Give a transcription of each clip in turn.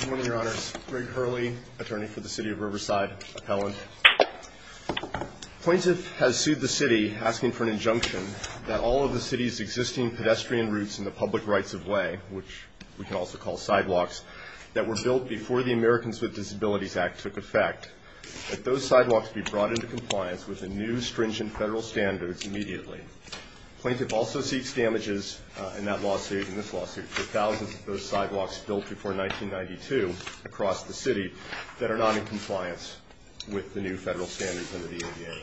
Good morning, Your Honors. Greg Hurley, attorney for the City of Riverside, appellant. Plaintiff has sued the City asking for an injunction that all of the City's existing pedestrian routes and the public rights-of-way, which we can also call sidewalks, that were built before the Americans with Disabilities Act took effect, that those sidewalks be brought into compliance with the new stringent federal standards immediately. Plaintiff also seeks damages in that lawsuit and this lawsuit for thousands of those sidewalks built before 1992 across the City that are not in compliance with the new federal standards under the ADA.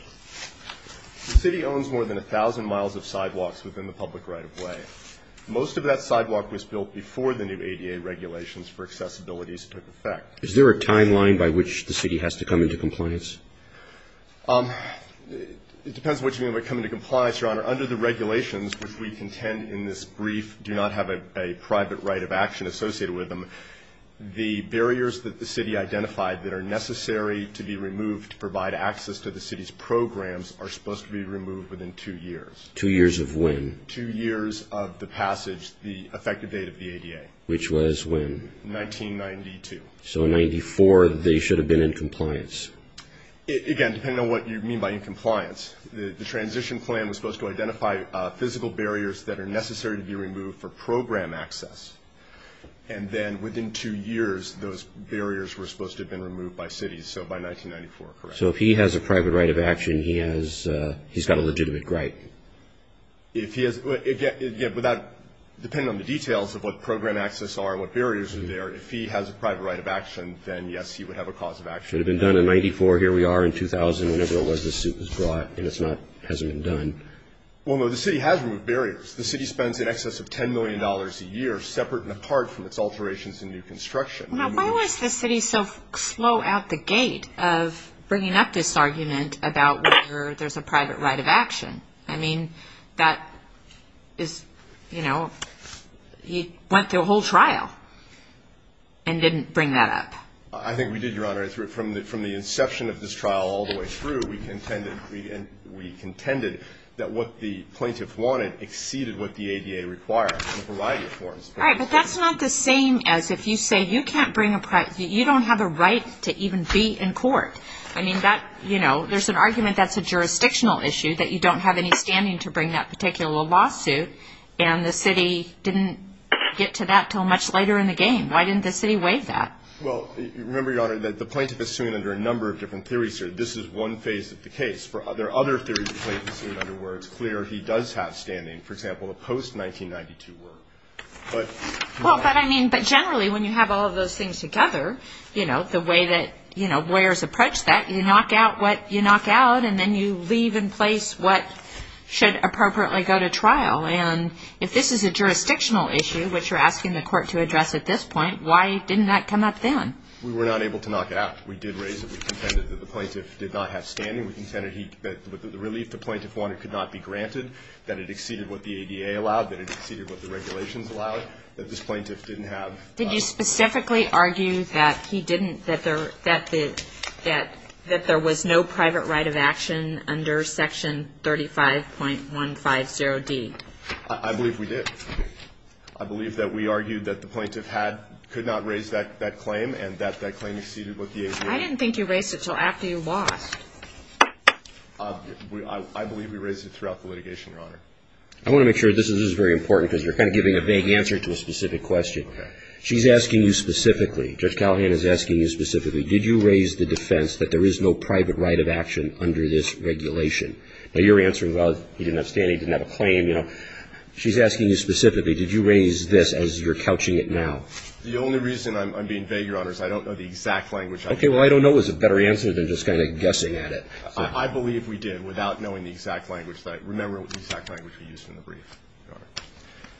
The City owns more than 1,000 miles of sidewalks within the public right-of-way. Most of that sidewalk was built before the new ADA regulations for accessibility took effect. Is there a timeline by which the City has to come into compliance? It depends on what you mean by coming into compliance, Your Honor. Under the regulations, which we contend in this brief do not have a private right of action associated with them, the barriers that the City identified that are necessary to be removed to provide access to the City's programs are supposed to be removed within two years. Two years of when? Two years of the passage, the effective date of the ADA. Which was when? 1992. So in 1994 they should have been in compliance. Again, depending on what you mean by in compliance, the transition plan was supposed to identify physical barriers that are necessary to be removed for program access and then within two years those barriers were supposed to have been removed by City, so by 1994, correct? So if he has a private right of action, he's got a legitimate right? Again, depending on the details of what program access are, what barriers are there, if he has a private right of action, then yes, he would have a cause of action. It would have been done in 94, here we are in 2000, whenever it was this suit was brought and it hasn't been done. Well, no, the City has removed barriers. The City spends in excess of $10 million a year separate and apart from its alterations in new construction. Why was the City so slow at the gate of bringing up this argument about whether there's a private right of action? I mean, that is, you know, he went through a whole trial and didn't bring that up. I think we did, Your Honor. From the inception of this trial all the way through, we contended that what the plaintiff wanted exceeded what the ADA required in a variety of forms. All right, but that's not the same as if you say you can't bring a, you don't have a right to even be in court. I mean, that, you know, there's an argument that's a jurisdictional issue, that you don't have any standing to bring that particular lawsuit, and the City didn't get to that until much later in the game. Why didn't the City waive that? Well, remember, Your Honor, that the plaintiff is suing under a number of different theories here. This is one phase of the case. There are other theories the plaintiff is suing under where it's clear he does have standing. For example, the post-1992 work. Well, but I mean, but generally when you have all of those things together, you know, the way that, you know, lawyers approach that, you knock out what you knock out, and then you leave in place what should appropriately go to trial. And if this is a jurisdictional issue, which you're asking the court to address at this point, why didn't that come up then? We were not able to knock it out. We did raise it. We contended that the plaintiff did not have standing. We contended that the relief the plaintiff wanted could not be granted, that it exceeded what the ADA allowed, that it exceeded what the regulations allowed, that this plaintiff didn't have. Did you specifically argue that he didn't, that there was no private right of action under Section 35.150D? I believe we did. I believe that we argued that the plaintiff could not raise that claim and that that claim exceeded what the ADA allowed. I didn't think you raised it until after you lost. I believe we raised it throughout the litigation, Your Honor. I want to make sure this is very important, because you're kind of giving a vague answer to a specific question. Okay. She's asking you specifically, Judge Callahan is asking you specifically, did you raise the defense that there is no private right of action under this regulation? Now, you're answering, well, he didn't have standing, he didn't have a claim, you know. She's asking you specifically, did you raise this as you're couching it now? The only reason I'm being vague, Your Honor, is I don't know the exact language. Okay. Well, I don't know is a better answer than just kind of guessing at it. I believe we did, without knowing the exact language. Remember the exact language we used in the brief, Your Honor.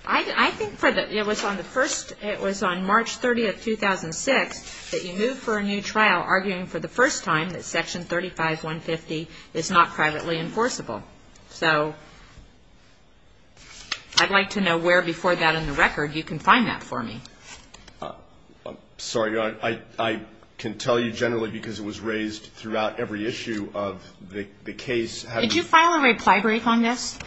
I think it was on March 30, 2006, that you moved for a new trial arguing for the first time that Section 35150 is not privately enforceable. So I'd like to know where before that in the record you can find that for me. I'm sorry, Your Honor. I can tell you generally because it was raised throughout every issue of the case. Did you file a reply brief on this?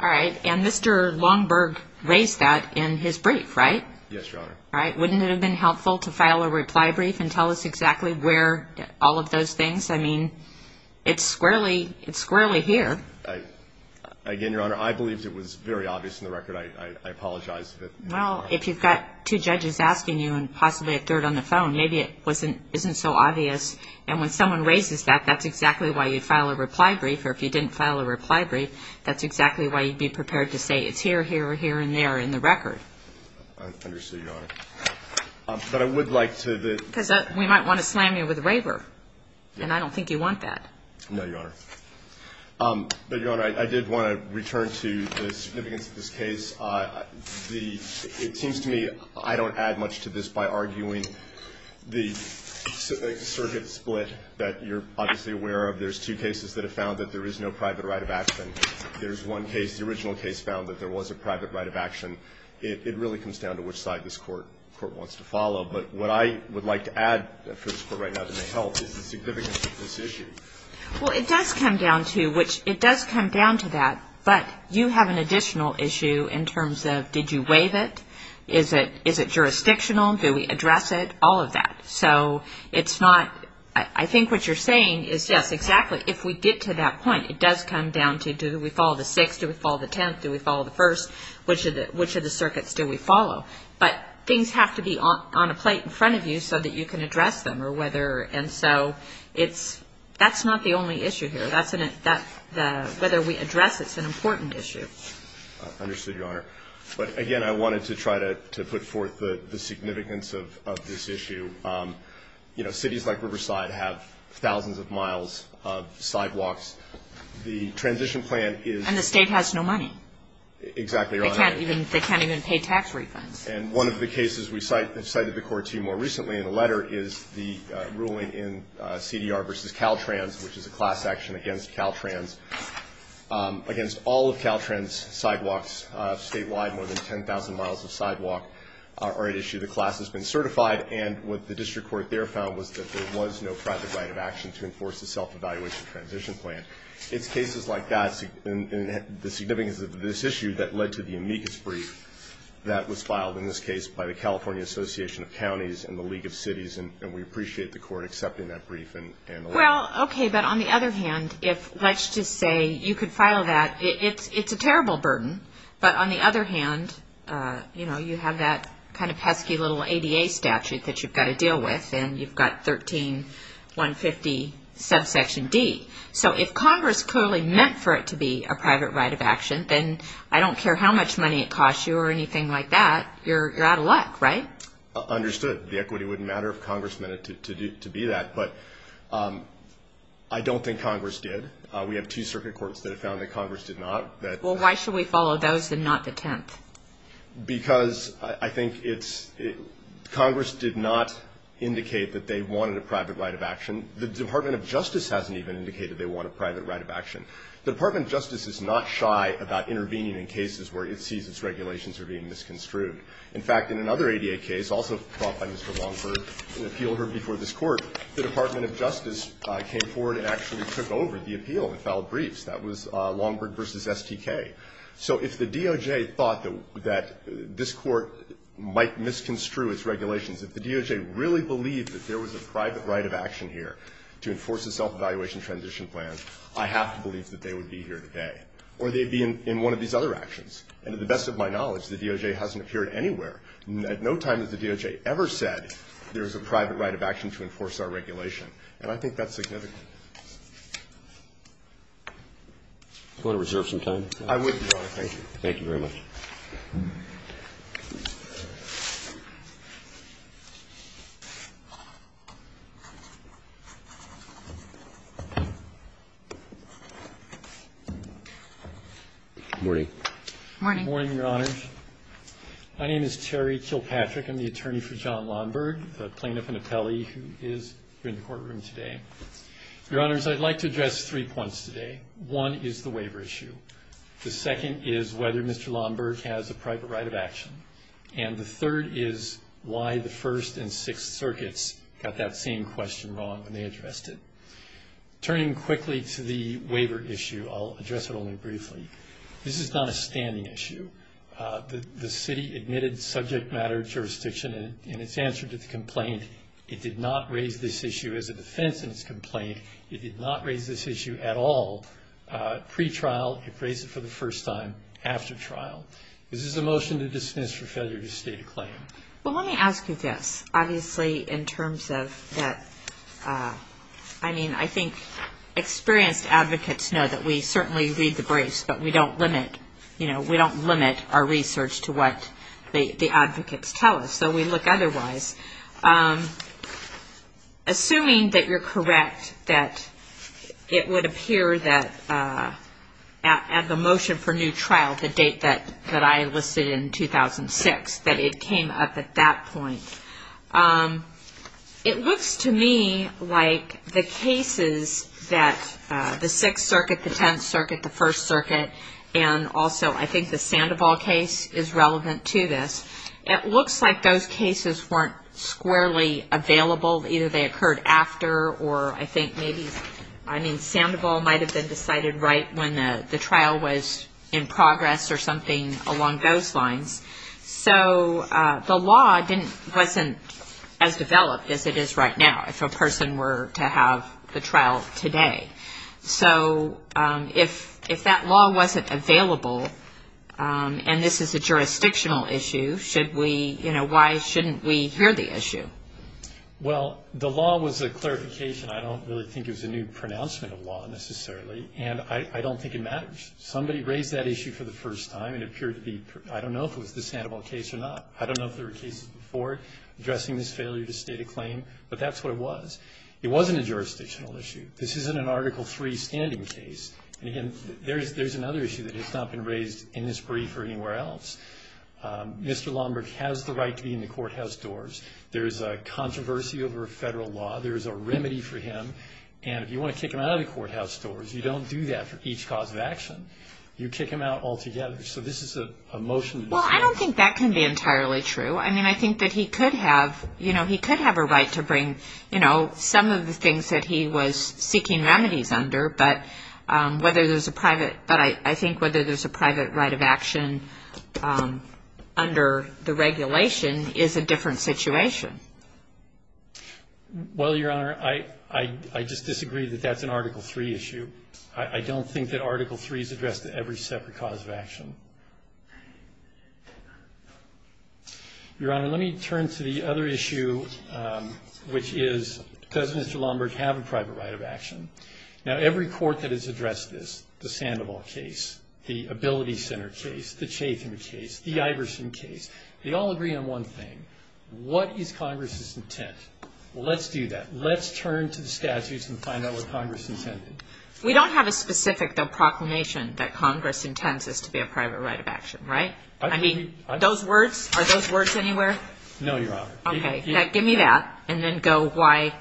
All right. And Mr. Longberg raised that in his brief, right? Yes, Your Honor. Wouldn't it have been helpful to file a reply brief and tell us exactly where all of those things? I mean, it's squarely here. Again, Your Honor, I believed it was very obvious in the record. I apologize. Well, if you've got two judges asking you and possibly a third on the phone, maybe it isn't so obvious. And when someone raises that, that's exactly why you file a reply brief. Or if you didn't file a reply brief, that's exactly why you'd be prepared to say, it's here, here, here, and there in the record. I understand, Your Honor. But I would like to the – Because we might want to slam you with a waiver, and I don't think you want that. No, Your Honor. But, Your Honor, I did want to return to the significance of this case. It seems to me I don't add much to this by arguing the circuit split that you're obviously aware of. There's two cases that have found that there is no private right of action. There's one case, the original case, found that there was a private right of action. It really comes down to which side this Court wants to follow. But what I would like to add for this Court right now that may help is the significance of this issue. Well, it does come down to that. But you have an additional issue in terms of, did you waive it? Is it jurisdictional? Do we address it? All of that. So it's not – I think what you're saying is, yes, exactly. If we get to that point, it does come down to, do we follow the Sixth? Do we follow the Tenth? Do we follow the First? Which of the circuits do we follow? But things have to be on a plate in front of you so that you can address them. And so that's not the only issue here. Whether we address it is an important issue. Understood, Your Honor. But, again, I wanted to try to put forth the significance of this issue. You know, cities like Riverside have thousands of miles of sidewalks. The transition plan is – And the State has no money. Exactly, Your Honor. They can't even pay tax refunds. And one of the cases we've cited the Court to more recently in a letter is the ruling in CDR v. Caltrans, which is a class action against Caltrans. Against all of Caltrans' sidewalks statewide, more than 10,000 miles of sidewalk are at issue. The class has been certified. And what the district court there found was that there was no private right of action to enforce the self-evaluation transition plan. It's cases like that and the significance of this issue that led to the amicus brief that was filed in this case by the California Association of Counties and the League of Cities. And we appreciate the Court accepting that brief and allowing it. Well, okay, but on the other hand, let's just say you could file that. It's a terrible burden. But on the other hand, you know, you have that kind of pesky little ADA statute that you've got to deal with, and you've got 13-150 subsection D. So if Congress clearly meant for it to be a private right of action, then I don't care how much money it costs you or anything like that, you're out of luck, right? Understood. The equity wouldn't matter if Congress meant it to be that. But I don't think Congress did. We have two circuit courts that have found that Congress did not. Well, why should we follow those and not the 10th? Because I think Congress did not indicate that they wanted a private right of action. The Department of Justice hasn't even indicated they want a private right of action. The Department of Justice is not shy about intervening in cases where it sees its regulations are being misconstrued. In fact, in another ADA case, also brought by Mr. Longberg, an appeal heard before this Court, the Department of Justice came forward and actually took over the appeal and filed briefs. That was Longberg v. STK. So if the DOJ thought that this Court might misconstrue its regulations, if the DOJ really believed that there was a private right of action here to enforce a self-evaluation transition plan, I have to believe that they would be here today. Or they'd be in one of these other actions. And to the best of my knowledge, the DOJ hasn't appeared anywhere at no time has the DOJ ever said there is a private right of action to enforce our regulation. And I think that's significant. Do you want to reserve some time? I would, Your Honor. Thank you. Thank you very much. Good morning. Good morning, Your Honors. My name is Terry Kilpatrick. I'm the attorney for John Longberg, the plaintiff and appellee who is here in the courtroom today. Your Honors, I'd like to address three points today. One is the waiver issue. The second is whether Mr. Longberg has a private right of action. And the third is why the First and Sixth Circuits got that same question wrong when they addressed it. Turning quickly to the waiver issue, I'll address it only briefly. This is not a standing issue. The city admitted subject matter jurisdiction in its answer to the complaint. It did not raise this issue as a defense in its complaint. It did not raise this issue at all. Pre-trial, it raised it for the first time. After trial, this is a motion to dismiss for failure to state a claim. Well, let me ask you this. Obviously, in terms of that, I mean, I think experienced advocates know that we certainly read the briefs, but we don't limit, you know, we don't limit our research to what the advocates tell us. So we look otherwise. Assuming that you're correct that it would appear that at the motion for new trial, the date that I listed in 2006, that it came up at that point. It looks to me like the cases that the Sixth Circuit, the Tenth Circuit, the First Circuit, and also I think the Sandoval case is relevant to this. It looks like those cases weren't squarely available. Either they occurred after or I think maybe, I mean, Sandoval might have been decided right when the trial was in progress or something along those lines. So the law wasn't as developed as it is right now if a person were to have the trial today. So if that law wasn't available and this is a jurisdictional issue, should we, you know, why shouldn't we hear the issue? Well, the law was a clarification. I don't really think it was a new pronouncement of law necessarily. And I don't think it matters. Somebody raised that issue for the first time and it appeared to be, I don't know if it was the Sandoval case or not. I don't know if there were cases before addressing this failure to state a claim, but that's what it was. It wasn't a jurisdictional issue. This isn't an Article III standing case. And, again, there's another issue that has not been raised in this brief or anywhere else. Mr. Lombard has the right to be in the courthouse doors. There's a controversy over federal law. There's a remedy for him. And if you want to kick him out of the courthouse doors, you don't do that for each cause of action. You kick him out altogether. So this is a motion. Well, I don't think that can be entirely true. I mean, I think that he could have, you know, he could have a right to bring, you know, some of the things that he was seeking remedies under, but whether there's a private, but I think whether there's a private right of action under the regulation is a different situation. Well, Your Honor, I just disagree that that's an Article III issue. I don't think that Article III is addressed to every separate cause of action. Your Honor, let me turn to the other issue, which is does Mr. Lombard have a private right of action? Now, every court that has addressed this, the Sandoval case, the Ability Center case, the Chatham case, the Iverson case, they all agree on one thing. What is Congress's intent? Well, let's do that. Let's turn to the statutes and find out what Congress intended. We don't have a specific proclamation that Congress intends us to be a private right of action, right? I mean, those words, are those words anywhere? No, Your Honor. Okay, give me that, and then go why.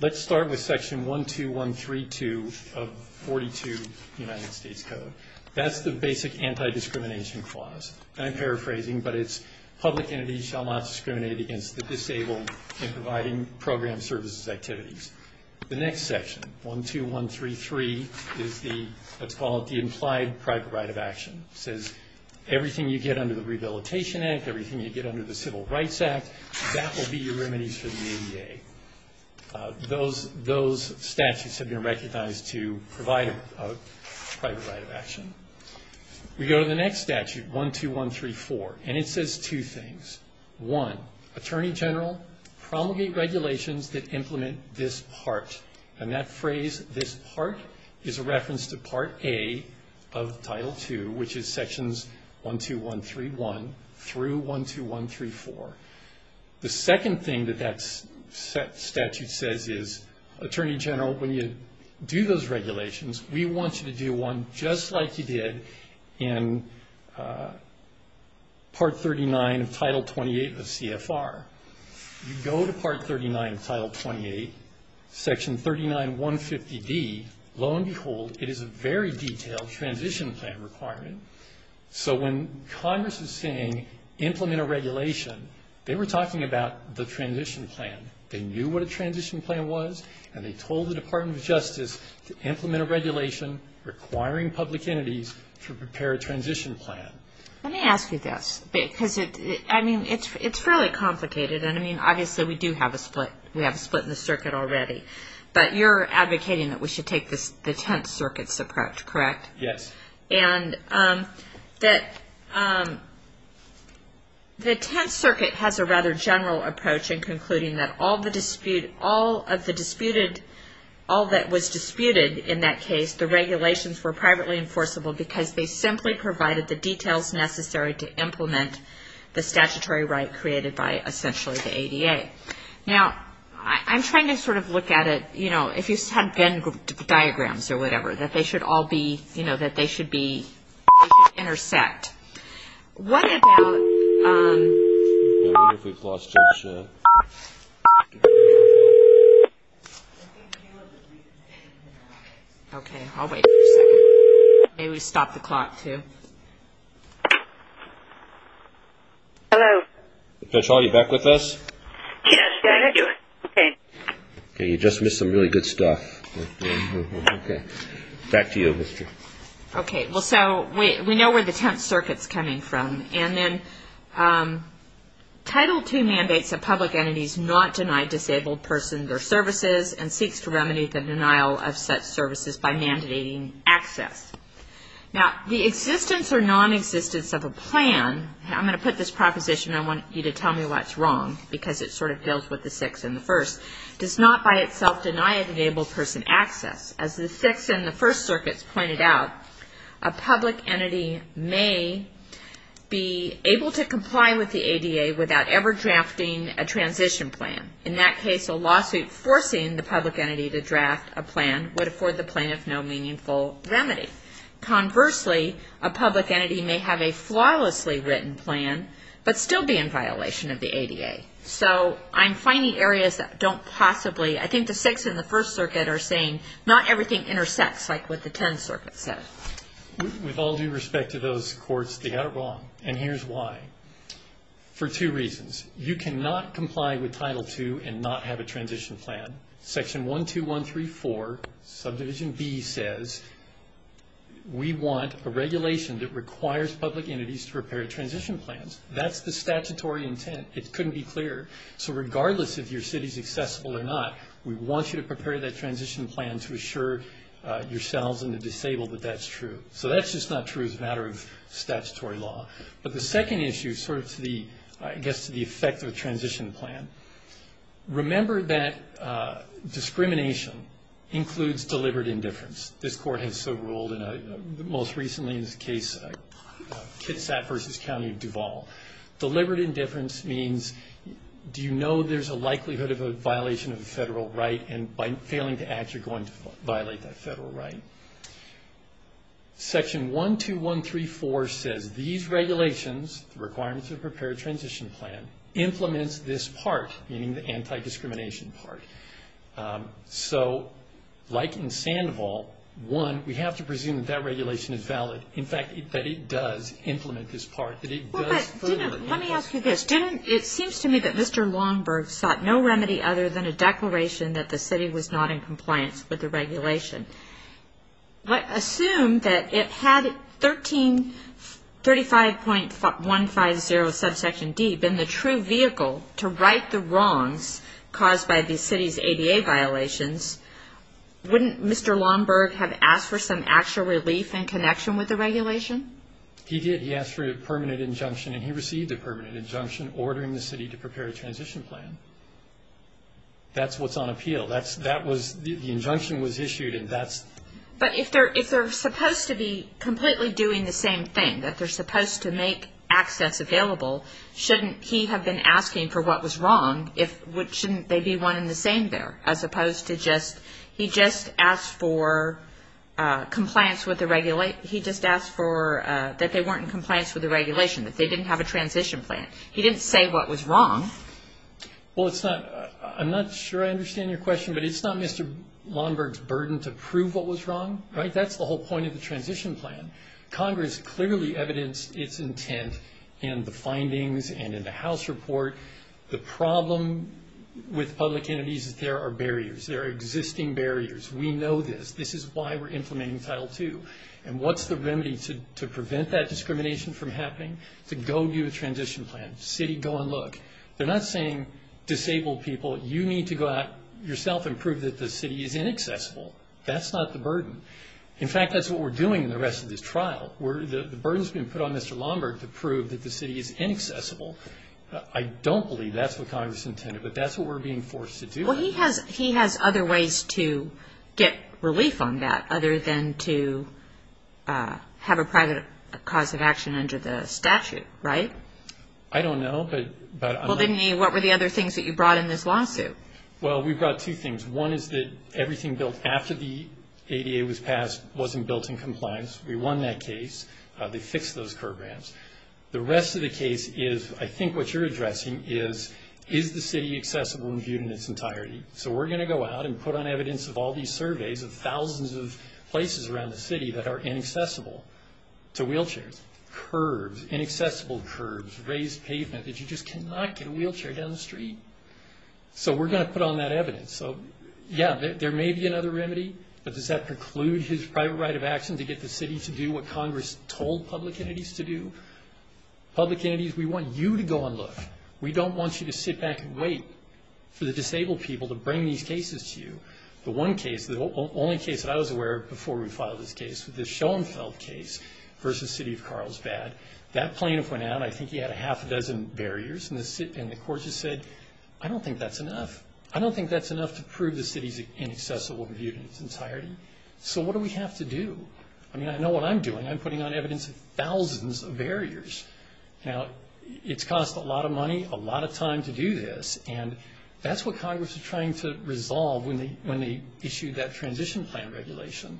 Let's start with Section 12132 of 42 of the United States Code. That's the basic anti-discrimination clause. I'm paraphrasing, but it's public entities shall not discriminate against the disabled in providing program services activities. The next section, 12133, is the, let's call it the implied private right of action. It says everything you get under the Rehabilitation Act, everything you get under the Civil Rights Act, that will be your remedies for the ADA. Those statutes have been recognized to provide a private right of action. We go to the next statute, 12134, and it says two things. One, Attorney General, promulgate regulations that implement this part. And that phrase, this part, is a reference to Part A of Title II, which is Sections 12131 through 12134. The second thing that that statute says is, Attorney General, when you do those regulations, we want you to do one just like you did in Part 39 of Title 28 of CFR. You go to Part 39 of Title 28, Section 39150D, lo and behold, it is a very detailed transition plan requirement. So when Congress is saying implement a regulation, they were talking about the transition plan. They knew what a transition plan was, and they told the Department of Justice to implement a regulation requiring public entities to prepare a transition plan. Let me ask you this because, I mean, it's fairly complicated. And, I mean, obviously we do have a split. We have a split in the circuit already. But you're advocating that we should take the Tenth Circuit's approach, correct? Yes. And the Tenth Circuit has a rather general approach in concluding that all of the disputed, all that was disputed in that case, the regulations were privately enforceable because they simply provided the details necessary to implement the statutory right created by, essentially, the ADA. Now, I'm trying to sort of look at it, you know, if you had Venn diagrams or whatever, that they should all be, you know, that they should be intersect. What about... I wonder if we've lost Josh. Okay, I'll wait for a second. Maybe stop the clock too. Hello. Josh, are you back with us? Yes, I am. Okay, you just missed some really good stuff. Okay. Back to you, mister. Okay, well, so we know where the Tenth Circuit's coming from. And then Title II mandates that public entities not deny disabled persons their services and seeks to remedy the denial of such services by mandating access. Now, the existence or non-existence of a plan, I'm going to put this proposition and I want you to tell me what's wrong because it sort of deals with the Sixth and the First, does not by itself deny a disabled person access. As the Sixth and the First Circuits pointed out, a public entity may be able to comply with the ADA without ever drafting a transition plan. In that case, a lawsuit forcing the public entity to draft a plan would afford the plaintiff no meaningful remedy. Conversely, a public entity may have a flawlessly written plan but still be in violation of the ADA. So I'm finding areas that don't possibly... I think the Sixth and the First Circuit are saying not everything intersects like what the Tenth Circuit said. With all due respect to those courts, they got it wrong. And here's why. For two reasons. You cannot comply with Title II and not have a transition plan. Section 12134, subdivision B says we want a regulation that requires public entities to prepare transition plans. That's the statutory intent. It couldn't be clearer. So regardless if your city's accessible or not, we want you to prepare that transition plan to assure yourselves and the disabled that that's true. So that's just not true as a matter of statutory law. But the second issue sort of gets to the effect of a transition plan. Remember that discrimination includes deliberate indifference. This court has so ruled most recently in this case, Kitsap v. County of Duval. Deliberate indifference means do you know there's a likelihood of a violation of a federal right and by failing to act you're going to violate that federal right. Section 12134 says these regulations, the requirements to prepare a transition plan, implements this part, meaning the anti-discrimination part. So like in Sandoval, one, we have to presume that that regulation is valid. In fact, that it does implement this part. Well, but let me ask you this. It seems to me that Mr. Longberg sought no remedy other than a declaration that the city was not in compliance with the regulation. Assume that it had 1335.150, subsection D, been the true vehicle to right the wrongs caused by the city's ADA violations, wouldn't Mr. Longberg have asked for some actual relief in connection with the regulation? He did. He asked for a permanent injunction and he received a permanent injunction ordering the city to prepare a transition plan. That's what's on appeal. That was the injunction was issued and that's. But if they're supposed to be completely doing the same thing, that they're supposed to make access available, shouldn't he have been asking for what was wrong, shouldn't they be one and the same there, as opposed to just, he just asked for compliance with the regulation. He just asked for, that they weren't in compliance with the regulation, that they didn't have a transition plan. He didn't say what was wrong. Well, it's not, I'm not sure I understand your question, but it's not Mr. Longberg's burden to prove what was wrong, right? That's the whole point of the transition plan. Congress clearly evidenced its intent in the findings and in the House report. The problem with public entities is there are barriers. There are existing barriers. We know this. This is why we're implementing Title II. And what's the remedy to prevent that discrimination from happening? To go do a transition plan. City, go and look. They're not saying, disabled people, you need to go out yourself and prove that the city is inaccessible. That's not the burden. In fact, that's what we're doing in the rest of this trial. The burden's been put on Mr. Longberg to prove that the city is inaccessible. I don't believe that's what Congress intended, but that's what we're being forced to do. Well, he has other ways to get relief on that other than to have a private cause of action under the statute, right? I don't know. Well, didn't he? What were the other things that you brought in this lawsuit? Well, we brought two things. One is that everything built after the ADA was passed wasn't built in compliance. We won that case. They fixed those curb ramps. The rest of the case is, I think what you're addressing is, is the city accessible and viewed in its entirety? So we're going to go out and put on evidence of all these surveys, of thousands of places around the city that are inaccessible to wheelchairs, curbs, inaccessible curbs, raised pavement, that you just cannot get a wheelchair down the street. So we're going to put on that evidence. Yeah, there may be another remedy, but does that preclude his private right of action to get the city to do what Congress told public entities to do? Public entities, we want you to go and look. We don't want you to sit back and wait for the disabled people to bring these cases to you. The one case, the only case that I was aware of before we filed this case, was the Schoenfeld case versus City of Carlsbad. That plaintiff went out, I think he had a half a dozen barriers, and the court just said, I don't think that's enough. I don't think that's enough to prove the city's inaccessible and viewed in its entirety. So what do we have to do? I mean, I know what I'm doing. I'm putting on evidence of thousands of barriers. Now, it's cost a lot of money, a lot of time to do this, and that's what Congress was trying to resolve when they issued that transition plan regulation.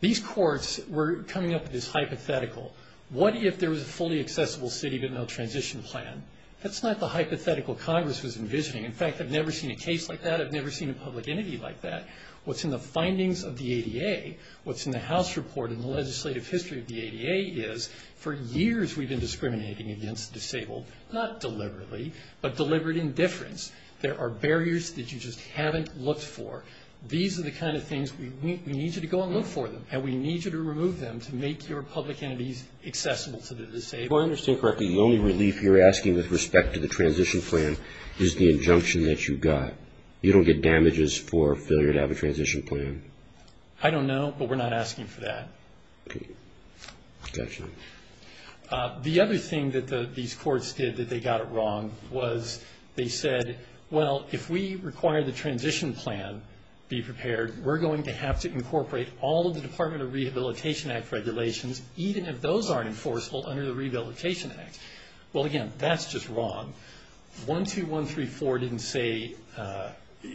These courts were coming up with this hypothetical. What if there was a fully accessible city but no transition plan? That's not the hypothetical Congress was envisioning. In fact, I've never seen a case like that. I've never seen a public entity like that. What's in the findings of the ADA? What's in the House report in the legislative history of the ADA is for years we've been discriminating against disabled, not deliberately, but deliberate indifference. There are barriers that you just haven't looked for. These are the kind of things we need you to go and look for them, and we need you to remove them to make your public entities accessible to the disabled. If I understand correctly, the only relief you're asking with respect to the transition plan is the injunction that you got. You don't get damages for failure to have a transition plan. I don't know, but we're not asking for that. Okay. Gotcha. The other thing that these courts did that they got it wrong was they said, well, if we require the transition plan be prepared, we're going to have to incorporate all of the Department of Rehabilitation Act regulations, even if those aren't enforceable under the Rehabilitation Act. Well, again, that's just wrong. 12134 didn't say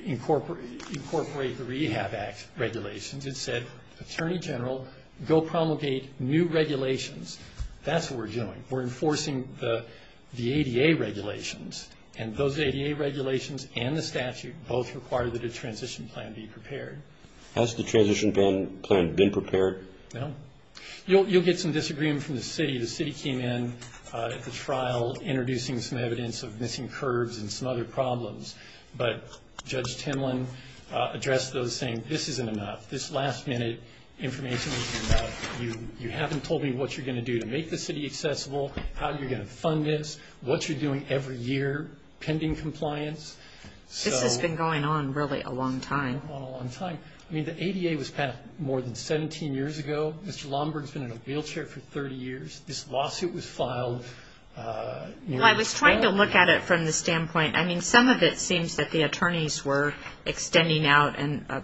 incorporate the Rehab Act regulations. It said, Attorney General, go promulgate new regulations. That's what we're doing. We're enforcing the ADA regulations, and those ADA regulations and the statute both require that a transition plan be prepared. Has the transition plan been prepared? No. You'll get some disagreement from the city. The city came in at the trial introducing some evidence of missing curbs and some other problems. But Judge Timlin addressed those, saying this isn't enough. This last-minute information isn't enough. You haven't told me what you're going to do to make the city accessible, how you're going to fund this, what you're doing every year pending compliance. This has been going on really a long time. It's been going on a long time. I mean, the ADA was passed more than 17 years ago. Mr. Lomberg has been in a wheelchair for 30 years. This lawsuit was filed. Well, I was trying to look at it from the standpoint. I mean, some of it seems that the attorneys were extending out,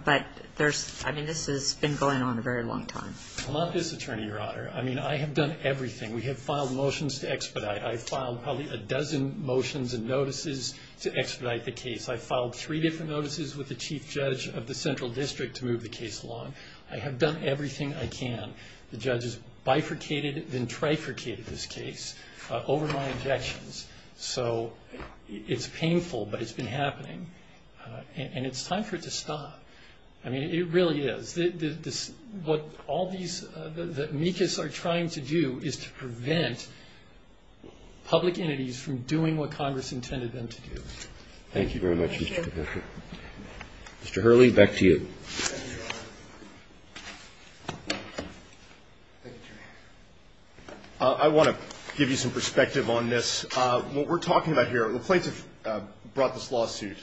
but this has been going on a very long time. I'm not this attorney, Your Honor. I mean, I have done everything. We have filed motions to expedite. I filed probably a dozen motions and notices to expedite the case. I filed three different notices with the chief judge of the central district to move the case along. I have done everything I can. The judge has bifurcated and trifurcated this case over my objections. So it's painful, but it's been happening. And it's time for it to stop. I mean, it really is. What all these, what MECAS are trying to do is to prevent public entities from doing what Congress intended them to do. Thank you very much, Mr. Capuccio. Thank you. Mr. Hurley, back to you. Thank you, Your Honor. I want to give you some perspective on this. What we're talking about here, the plaintiffs brought this lawsuit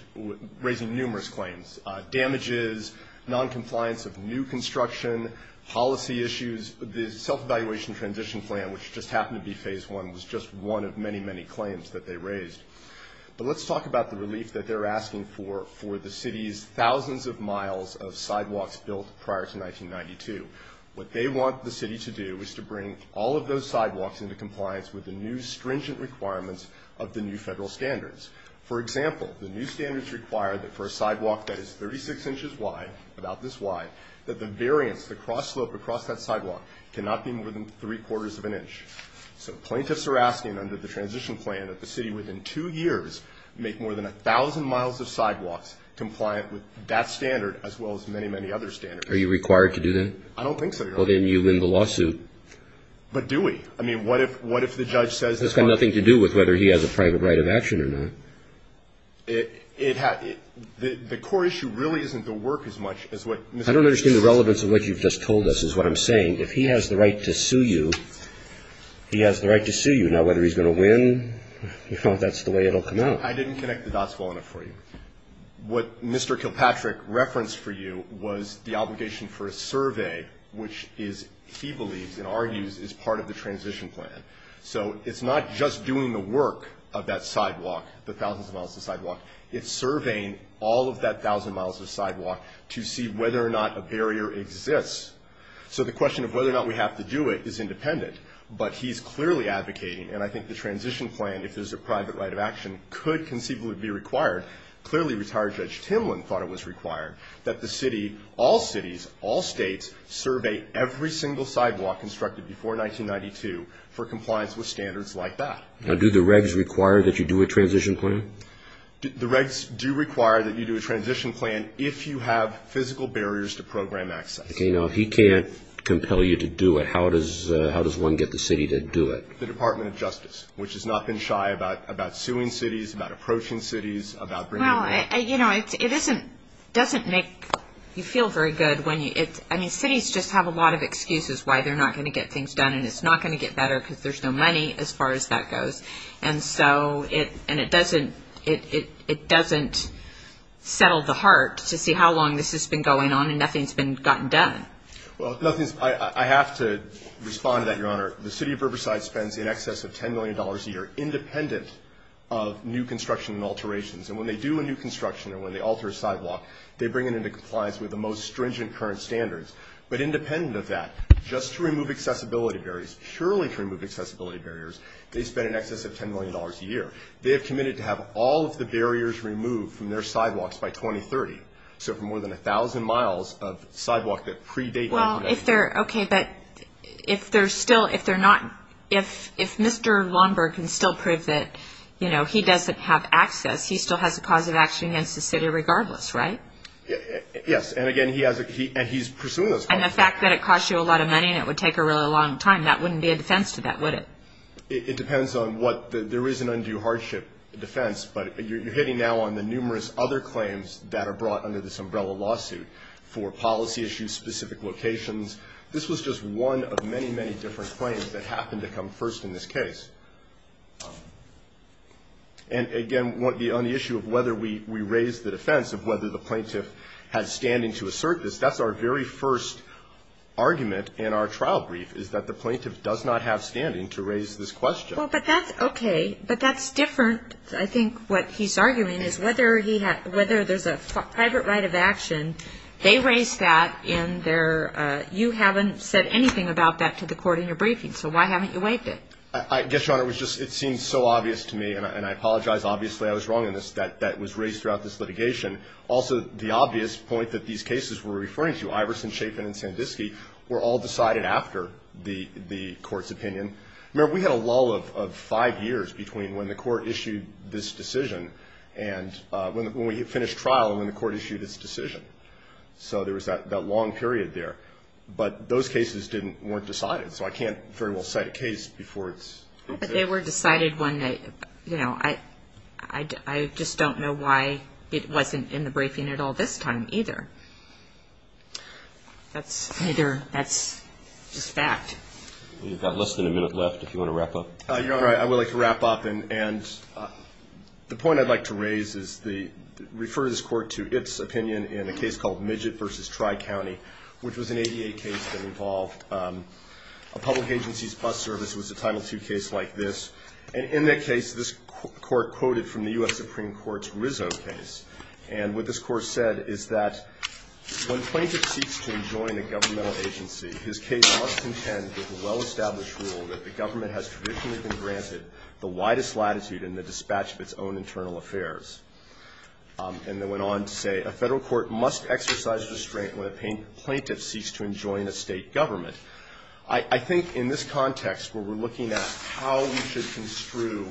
raising numerous claims, damages, noncompliance of new construction, policy issues. The self-evaluation transition plan, which just happened to be Phase I, was just one of many, many claims that they raised. But let's talk about the relief that they're asking for for the city's thousands of miles of sidewalks built prior to 1992. What they want the city to do is to bring all of those sidewalks into compliance with the new stringent requirements of the new federal standards. For example, the new standards require that for a sidewalk that is 36 inches wide, about this wide, that the variance, the cross slope across that sidewalk, cannot be more than three-quarters of an inch. So plaintiffs are asking under the transition plan that the city, within two years, make more than a thousand miles of sidewalks compliant with that standard as well as many, many other standards. Are you required to do that? I don't think so, Your Honor. Well, then you win the lawsuit. But do we? I mean, what if the judge says it's not? It's got nothing to do with whether he has a private right of action or not. The core issue really isn't the work as much as what Mr. Capuccio said. I don't understand the relevance of what you've just told us is what I'm saying. If he has the right to sue you, he has the right to sue you. Now, whether he's going to win, you know, that's the way it will come out. I didn't connect the dots well enough for you. What Mr. Kilpatrick referenced for you was the obligation for a survey, which he believes and argues is part of the transition plan. So it's not just doing the work of that sidewalk, the thousands of miles of sidewalk. It's surveying all of that thousand miles of sidewalk to see whether or not a barrier exists. So the question of whether or not we have to do it is independent. But he's clearly advocating, and I think the transition plan, if there's a private right of action, could conceivably be required. Clearly, retired Judge Timlin thought it was required that the city, all cities, all states survey every single sidewalk constructed before 1992 for compliance with standards like that. Now, do the regs require that you do a transition plan? The regs do require that you do a transition plan if you have physical barriers to program access. If he can't compel you to do it, how does one get the city to do it? The Department of Justice, which has not been shy about suing cities, about approaching cities, about bringing them in. It doesn't make you feel very good. Cities just have a lot of excuses why they're not going to get things done, and it's not going to get better because there's no money as far as that goes. And so it doesn't settle the heart to see how long this has been going on and nothing's been gotten done. Well, I have to respond to that, Your Honor. The city of Riverside spends in excess of $10 million a year independent of new construction and alterations. And when they do a new construction or when they alter a sidewalk, they bring it into compliance with the most stringent current standards. But independent of that, just to remove accessibility barriers, purely to remove accessibility barriers, they spend in excess of $10 million a year. They have committed to have all of the barriers removed from their sidewalks by 2030. So for more than 1,000 miles of sidewalk that predate that. Well, if they're – okay, but if they're still – if they're not – if Mr. Longberg can still prove that, you know, he doesn't have access, he still has a cause of action against the city regardless, right? Yes. And, again, he has – and he's pursuing those causes. And the fact that it costs you a lot of money and it would take a really long time, that wouldn't be a defense to that, would it? It depends on what – there is an undue hardship defense. But you're hitting now on the numerous other claims that are brought under this umbrella lawsuit for policy issues, specific locations. This was just one of many, many different claims that happened to come first in this case. And, again, on the issue of whether we raise the defense of whether the plaintiff has standing to assert this, that's our very first argument in our trial brief, is that the plaintiff does not have standing to raise this question. Well, but that's – okay. But that's different. I think what he's arguing is whether he – whether there's a private right of action, they raised that in their – you haven't said anything about that to the court in your briefing, so why haven't you waived it? I guess, Your Honor, it was just – it seems so obvious to me, and I apologize, obviously, I was wrong in this, that that was raised throughout this litigation. Also, the obvious point that these cases we're referring to, Iverson, Chapin, and Sandisky, were all decided after the court's opinion. Remember, we had a lull of five years between when the court issued this decision and when we finished trial and when the court issued its decision. So there was that long period there. But those cases didn't – weren't decided, so I can't very well cite a case before it's – But they were decided one night. You know, I just don't know why it wasn't in the briefing at all this time either. That's either – that's just fact. We've got less than a minute left if you want to wrap up. Your Honor, I would like to wrap up, and the point I'd like to raise is the – refer this court to its opinion in a case called Midget v. Tri-County, which was an ADA case that involved a public agency's bus service. It was a Title II case like this. And in that case, this court quoted from the U.S. Supreme Court's Rizzo case. And what this court said is that when a plaintiff seeks to enjoin a governmental agency, his case must contend with the well-established rule that the government has traditionally been granted the widest latitude in the dispatch of its own internal affairs. And it went on to say, a Federal court must exercise restraint when a plaintiff seeks to enjoin a State government. I think in this context where we're looking at how we should construe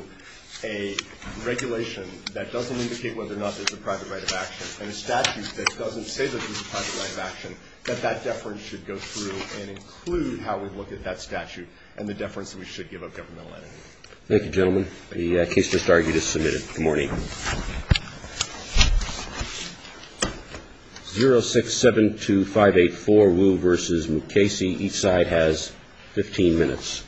a regulation that doesn't indicate whether or not there's a private right of action and a statute that doesn't say there's a private right of action, that that deference should go through and include how we look at that statute and the deference that we should give a governmental entity. Thank you, gentlemen. The case to start is submitted. Good morning. 0672584 Wu v. Mukasey. Each side has 15 minutes.